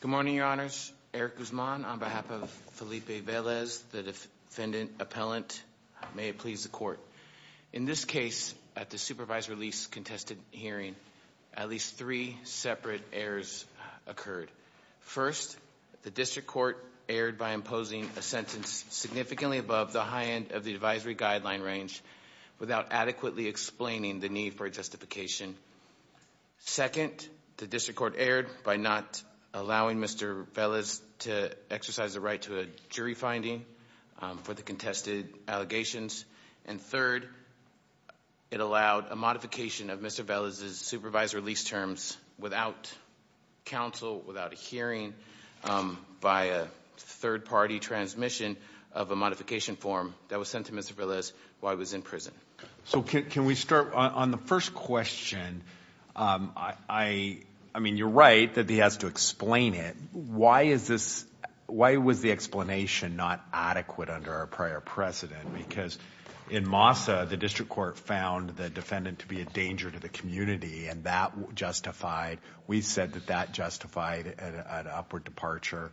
Good morning, your honors. Eric Guzman, on behalf of Felipe Velez, the defendant appellant. May it please the court. In this case, at the supervisory lease contested hearing, at least three separate errors occurred. First, the district court erred by imposing a sentence significantly above the high end of the advisory guideline range without adequately explaining the need for justification. Second, the district court erred by not allowing Mr. Velez to exercise the right to a jury finding for the contested allegations. And third, it allowed a modification of Mr. Velez's supervisory lease terms without counsel, without a hearing, by a third-party transmission of a modification form that was sent to Mr. Velez while he was in prison. So can we start on the first question? I mean, you're right that he has to explain it. Why was the explanation not adequate under our prior precedent? Because in MASA, the district court found the defendant to be a danger to the community, and that justified. We said that that justified an upward departure.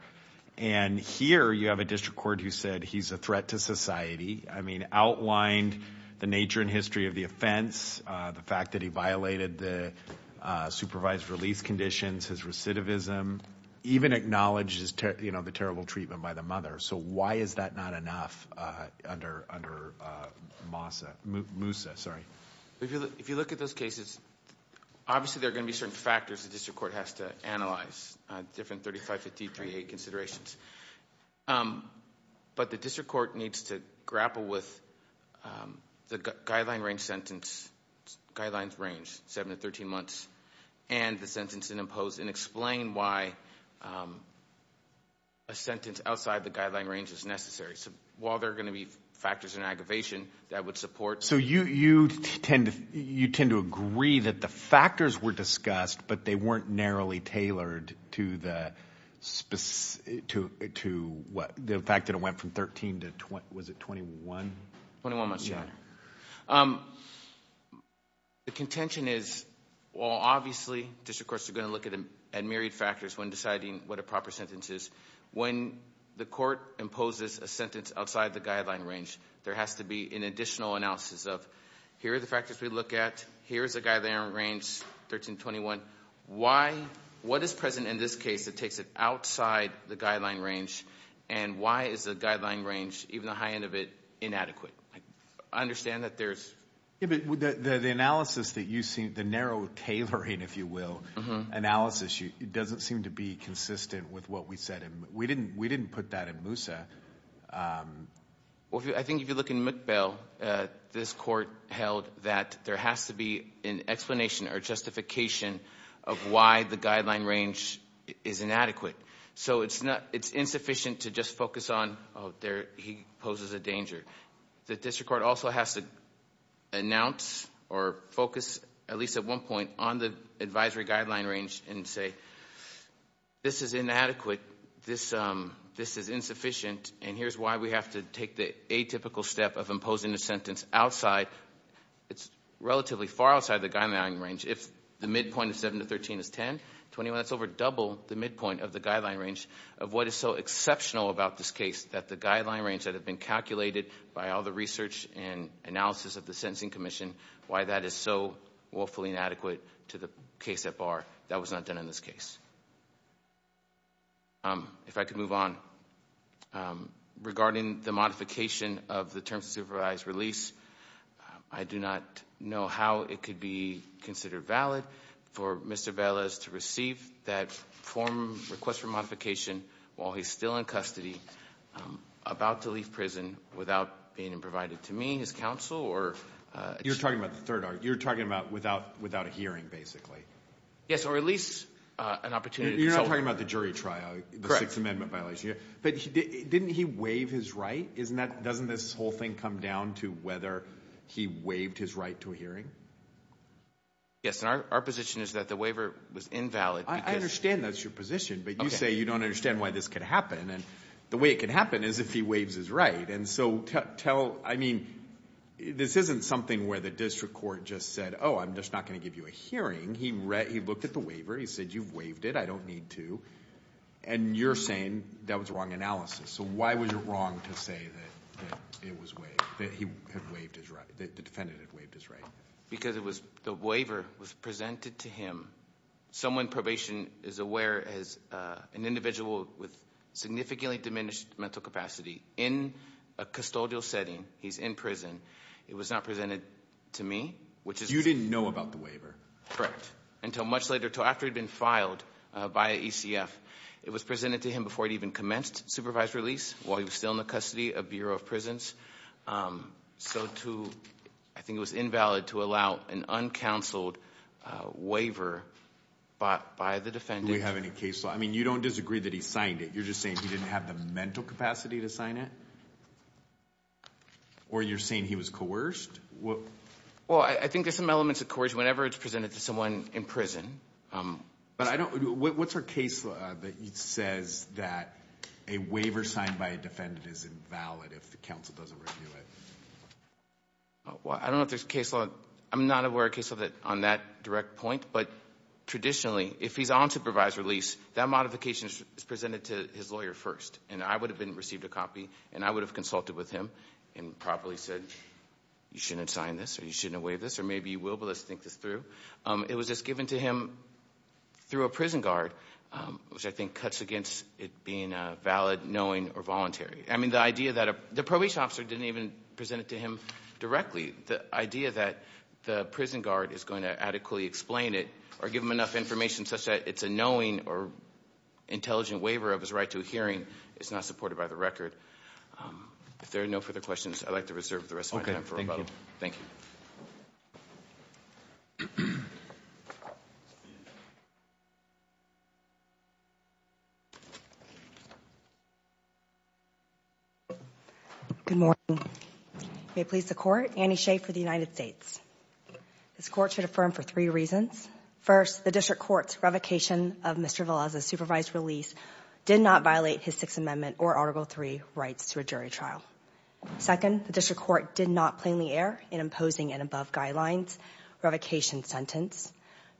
And here, you have a district court who said he's a threat to society. I mean, outlined the nature and history of the offense, the fact that he violated the supervisory lease conditions, his recidivism, even acknowledged the terrible treatment by the mother. So why is that not enough under MASA? MUSA, sorry. If you look at those cases, obviously there are going to be certain factors the district court has to analyze, different 35, 53, 8 considerations. But the district court needs to grapple with the guideline range sentence, guidelines range, 7 to 13 months, and the sentence imposed and explain why a sentence outside the guideline range is necessary. So while there are going to be factors in aggravation that would support... So you tend to agree that the factors were discussed, but they weren't narrowly tailored to the fact that it went from 13 to, was it 21? 21 months. Yeah. The contention is, well, obviously district courts are going to look at myriad factors when deciding what a proper sentence is. When the court imposes a sentence outside the guideline range, there has to be an additional analysis of, here are the factors we look at. Here's a guideline range, 13 to 21. Why? What is present in this case that takes it outside the guideline range? And why is the guideline range, even the high end of it, inadequate? I understand that there's... Yeah, but the analysis that you see, the narrow tailoring, if you will, analysis, it doesn't seem to be consistent with what we said. We said that there has to be an explanation or justification of why the guideline range is inadequate. So it's insufficient to just focus on, oh, he poses a danger. The district court also has to announce or focus, at least at one point, on the advisory guideline range and say, this is inadequate, this is insufficient, and here's why we have to take the atypical step of imposing a sentence outside, it's relatively far outside the guideline range. If the midpoint of 7 to 13 is 10, 21, that's over double the midpoint of the guideline range of what is so exceptional about this case, that the guideline range that had been calculated by all the research and analysis of the Sentencing Commission, why that is so woefully inadequate to the case at bar, that was not done in this case. If I could of the terms of supervised release, I do not know how it could be considered valid for Mr. Velez to receive that form, request for modification, while he's still in custody, about to leave prison, without being provided to me, his counsel, or... You're talking about the third argument. You're talking about without a hearing, basically. Yes, or at least an opportunity to consult. You're not talking about the jury trial, the Sixth Amendment violation. But didn't he waive his right? Doesn't this whole thing come down to whether he waived his right to a hearing? Yes, and our position is that the waiver was invalid because... I understand that's your position, but you say you don't understand why this could happen. The way it could happen is if he waives his right. This isn't something where the district court just said, oh, I'm just not going to give you a hearing. He looked at the waiver, he said, you've waived it, I don't need to. And you're saying that was wrong analysis. So why was it wrong to say that it was waived, that the defendant had waived his right? Because the waiver was presented to him. Someone in probation is aware as an individual with significantly diminished mental capacity in a custodial setting, he's in prison, it was not presented to me, which is... You didn't know about the waiver. Correct. Until much later, until after he'd been filed by ECF. It was presented to him before he'd even commenced supervised release while he was still in the custody of Bureau of Prisons. So to, I think it was invalid to allow an uncounseled waiver by the defendant. Do we have any case law? I mean, you don't disagree that he signed it. You're just saying he didn't have the mental capacity to sign it? Or you're saying he was coerced? Well, I think there's some elements of coercion whenever it's presented to someone in prison. But I don't, what's our case law that says that a waiver signed by a defendant is invalid if the counsel doesn't review it? Well, I don't know if there's a case law, I'm not aware of a case law on that direct point, but traditionally, if he's on supervised release, that modification is presented to his lawyer first. And I would have been, received a copy, and I would have consulted with him and properly said, you shouldn't have signed this, or you shouldn't have waived this, or maybe you will, but let's think this through. It was just given to him through a prison guard, which I think cuts against it being valid, knowing, or voluntary. I mean, the idea that a, the probation officer didn't even present it to him directly. The idea that the prison guard is going to adequately explain it or give him enough information such that it's a knowing or intelligent waiver of his right to a hearing is not supported by the record. If there are no further questions, I'd like to reserve the rest of my time for rebuttal. Thank you. Good morning. May it please the Court. Annie Shea for the United States. This Court should affirm for three reasons. First, the district court's revocation of Mr. Velez's Argle III rights to a jury trial. Second, the district court did not plainly err in imposing an above guidelines revocation sentence,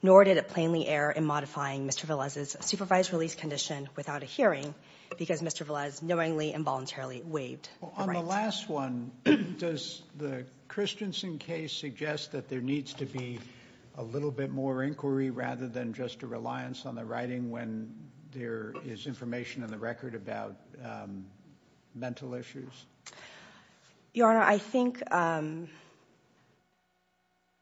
nor did it plainly err in modifying Mr. Velez's supervised release condition without a hearing because Mr. Velez knowingly and voluntarily waived the rights. Well, on the last one, does the Christensen case suggest that there needs to be a little bit more inquiry rather than just a reliance on the writing when there is information in the record about mental issues? Your Honor, I think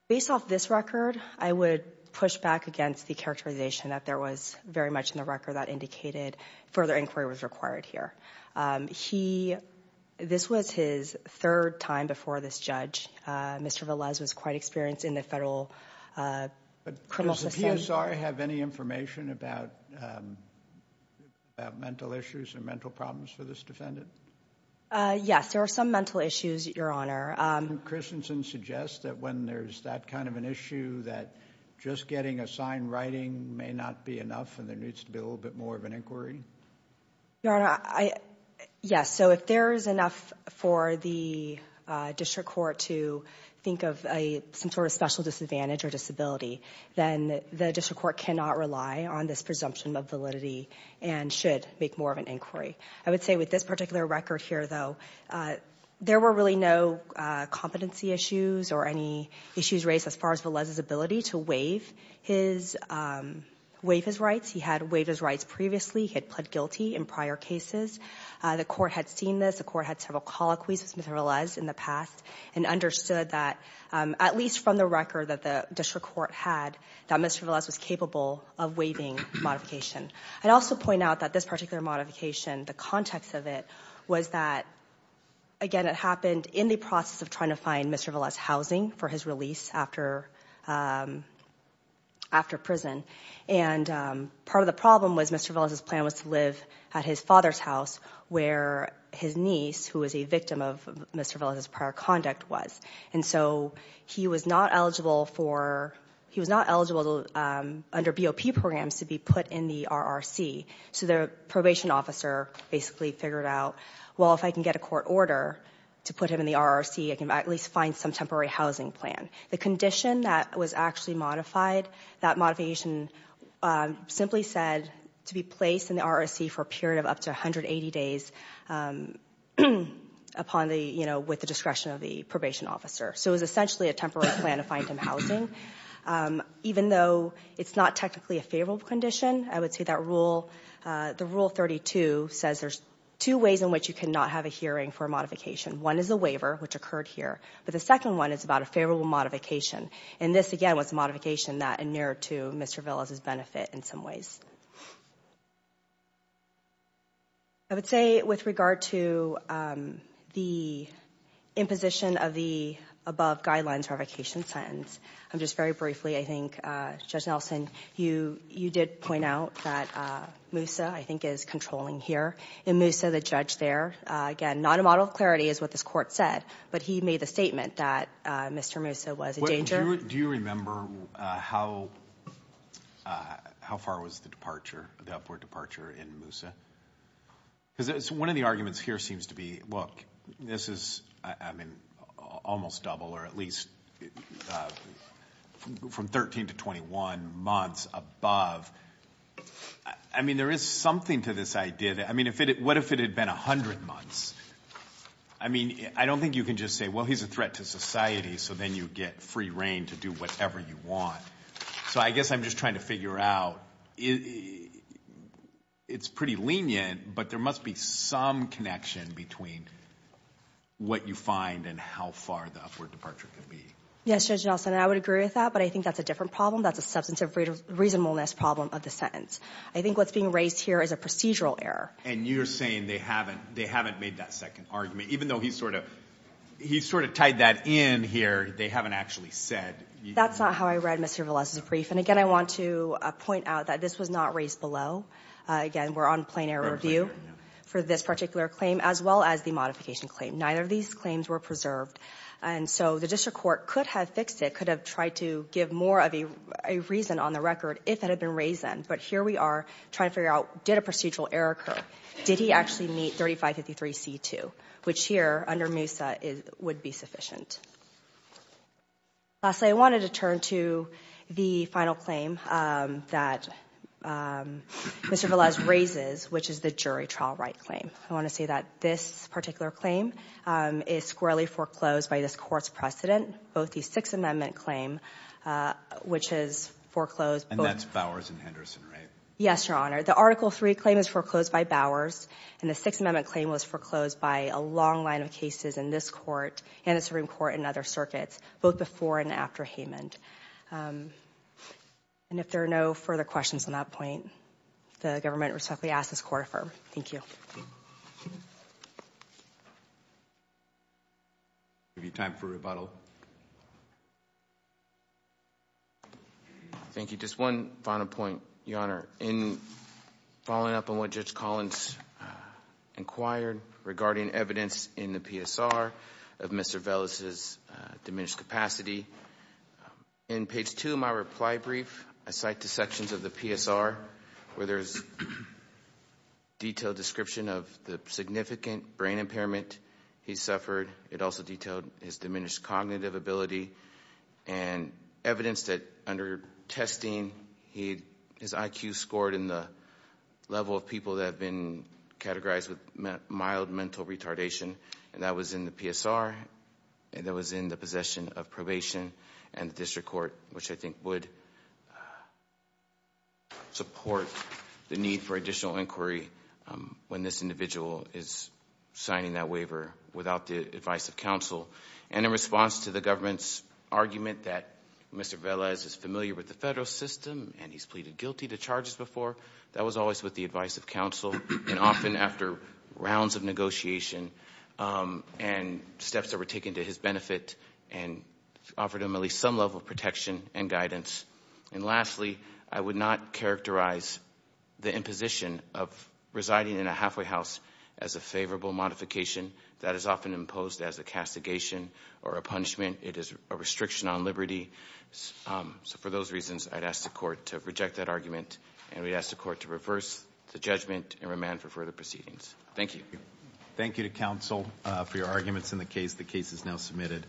based off this record, I would push back against the characterization that there was very much in the record that indicated further inquiry was required here. This was his third time before this judge. Mr. Velez was quite experienced in the federal criminal system. Does Zahra have any information about mental issues or mental problems for this defendant? Yes, there are some mental issues, Your Honor. Christensen suggests that when there's that kind of an issue that just getting a sign writing may not be enough and there needs to be a little bit more of an inquiry? Your Honor, yes. So if there is enough for the district court to think of some sort of special disadvantage or disability, then the district court cannot rely on this presumption of validity and should make more of an inquiry. I would say with this particular record here, though, there were really no competency issues or any issues raised as far as Velez's ability to waive his rights. He had waived his rights previously. He had pled guilty in prior cases. The court had seen this. The court had several colloquies with Mr. Velez in the past and understood that, at least from the record that the district court had, that Mr. Velez was capable of waiving modification. I'd also point out that this particular modification, the context of it, was that, again, it happened in the process of trying to find Mr. Velez's housing for his release after prison. And part of the problem was Mr. Velez's plan was to live at his father's house, where his niece, who was a victim of Mr. Velez's prior conduct, was. And so he was not eligible under BOP programs to be put in the RRC. So the probation officer basically figured out, well, if I can get a court order to put him in the RRC, I can at least find some temporary housing plan. The condition that was actually modified, that modification simply said to be placed in the RRC for a period of up to 180 days with the discretion of the probation officer. So it was essentially a temporary plan to find him housing. Even though it's not technically a favorable condition, I would say that the Rule 32 says there's two ways in which you cannot have a hearing for a modification. One is a waiver, which occurred here. But the second one is about a favorable modification. And this, again, was a modification that inured to Mr. Velez's benefit in some ways. I would say with regard to the imposition of the above guidelines for a vacation sentence, just very briefly, I think, Judge Nelson, you did point out that Moussa, I think, is controlling here. And Moussa, the judge there, again, not a model of clarity is what this court said, but he made the statement that Mr. Moussa was in danger. Do you remember how far was the departure, the upward departure in Moussa? Because one of the arguments here seems to be, look, this is, I mean, almost double, or at least from 13 to 21 months above. I mean, there is something to this idea. I mean, what if it had been 100 months? I mean, I don't think you can just say, well, he's a threat to society, so then you get free reign to do whatever you want. So I guess I'm just trying to figure out, it's pretty lenient, but there must be some connection between what you find and how far the upward departure can be. Yes, Judge Nelson, I would agree with that, but I think that's a different problem. That's a substantive reasonableness problem of the sentence. I think what's being raised here is a procedural error. And you're saying they haven't made that second argument, even though he's sort of tied that in here, they haven't actually said. That's not how I read Mr. Velez's brief. And, again, I want to point out that this was not raised below. Again, we're on plain error view for this particular claim as well as the modification claim. Neither of these claims were preserved. And so the district court could have fixed it, could have tried to give more of a reason on the record if it had been raised then. But here we are trying to figure out, did a procedural error occur? Did he actually meet 3553C2, which here under Moussa would be sufficient? Lastly, I wanted to turn to the final claim that Mr. Velez raises, which is the jury trial right claim. I want to say that this particular claim is squarely foreclosed by this Court's precedent, both the Sixth Amendment claim, which is foreclosed. And that's Bowers and Henderson, right? Yes, Your Honor. The Article III claim is foreclosed by Bowers, and the Sixth Amendment claim was foreclosed by a long line of cases in this Court and the Supreme Court and other circuits, both before and after Haymond. And if there are no further questions on that point, the government respectfully asks this Court affirm. Thank you. We have time for rebuttal. Thank you. Just one final point, Your Honor. In following up on what Judge Collins inquired regarding evidence in the PSR of Mr. Velez's diminished capacity, in page 2 of my reply brief, I cite the sections of the PSR where there's detailed description of the significant brain impairment he suffered. It also detailed his diminished cognitive ability and evidence that, under testing, his IQ scored in the level of people that have been categorized with mild mental retardation, and that was in the PSR and that was in the possession of probation and the district court, which I think would support the need for additional inquiry when this individual is signing that waiver without the advice of counsel. And in response to the government's argument that Mr. Velez is familiar with the federal system and he's pleaded guilty to charges before, that was always with the advice of counsel, and often after rounds of negotiation and steps that were taken to his benefit and offered him at least some level of protection and guidance. And lastly, I would not characterize the imposition of residing in a halfway house as a favorable modification. That is often imposed as a castigation or a punishment. It is a restriction on liberty. So for those reasons, I'd ask the court to reject that argument, and we'd ask the court to reverse the judgment and remand for further proceedings. Thank you. Thank you to counsel for your arguments in the case. The case is now submitted.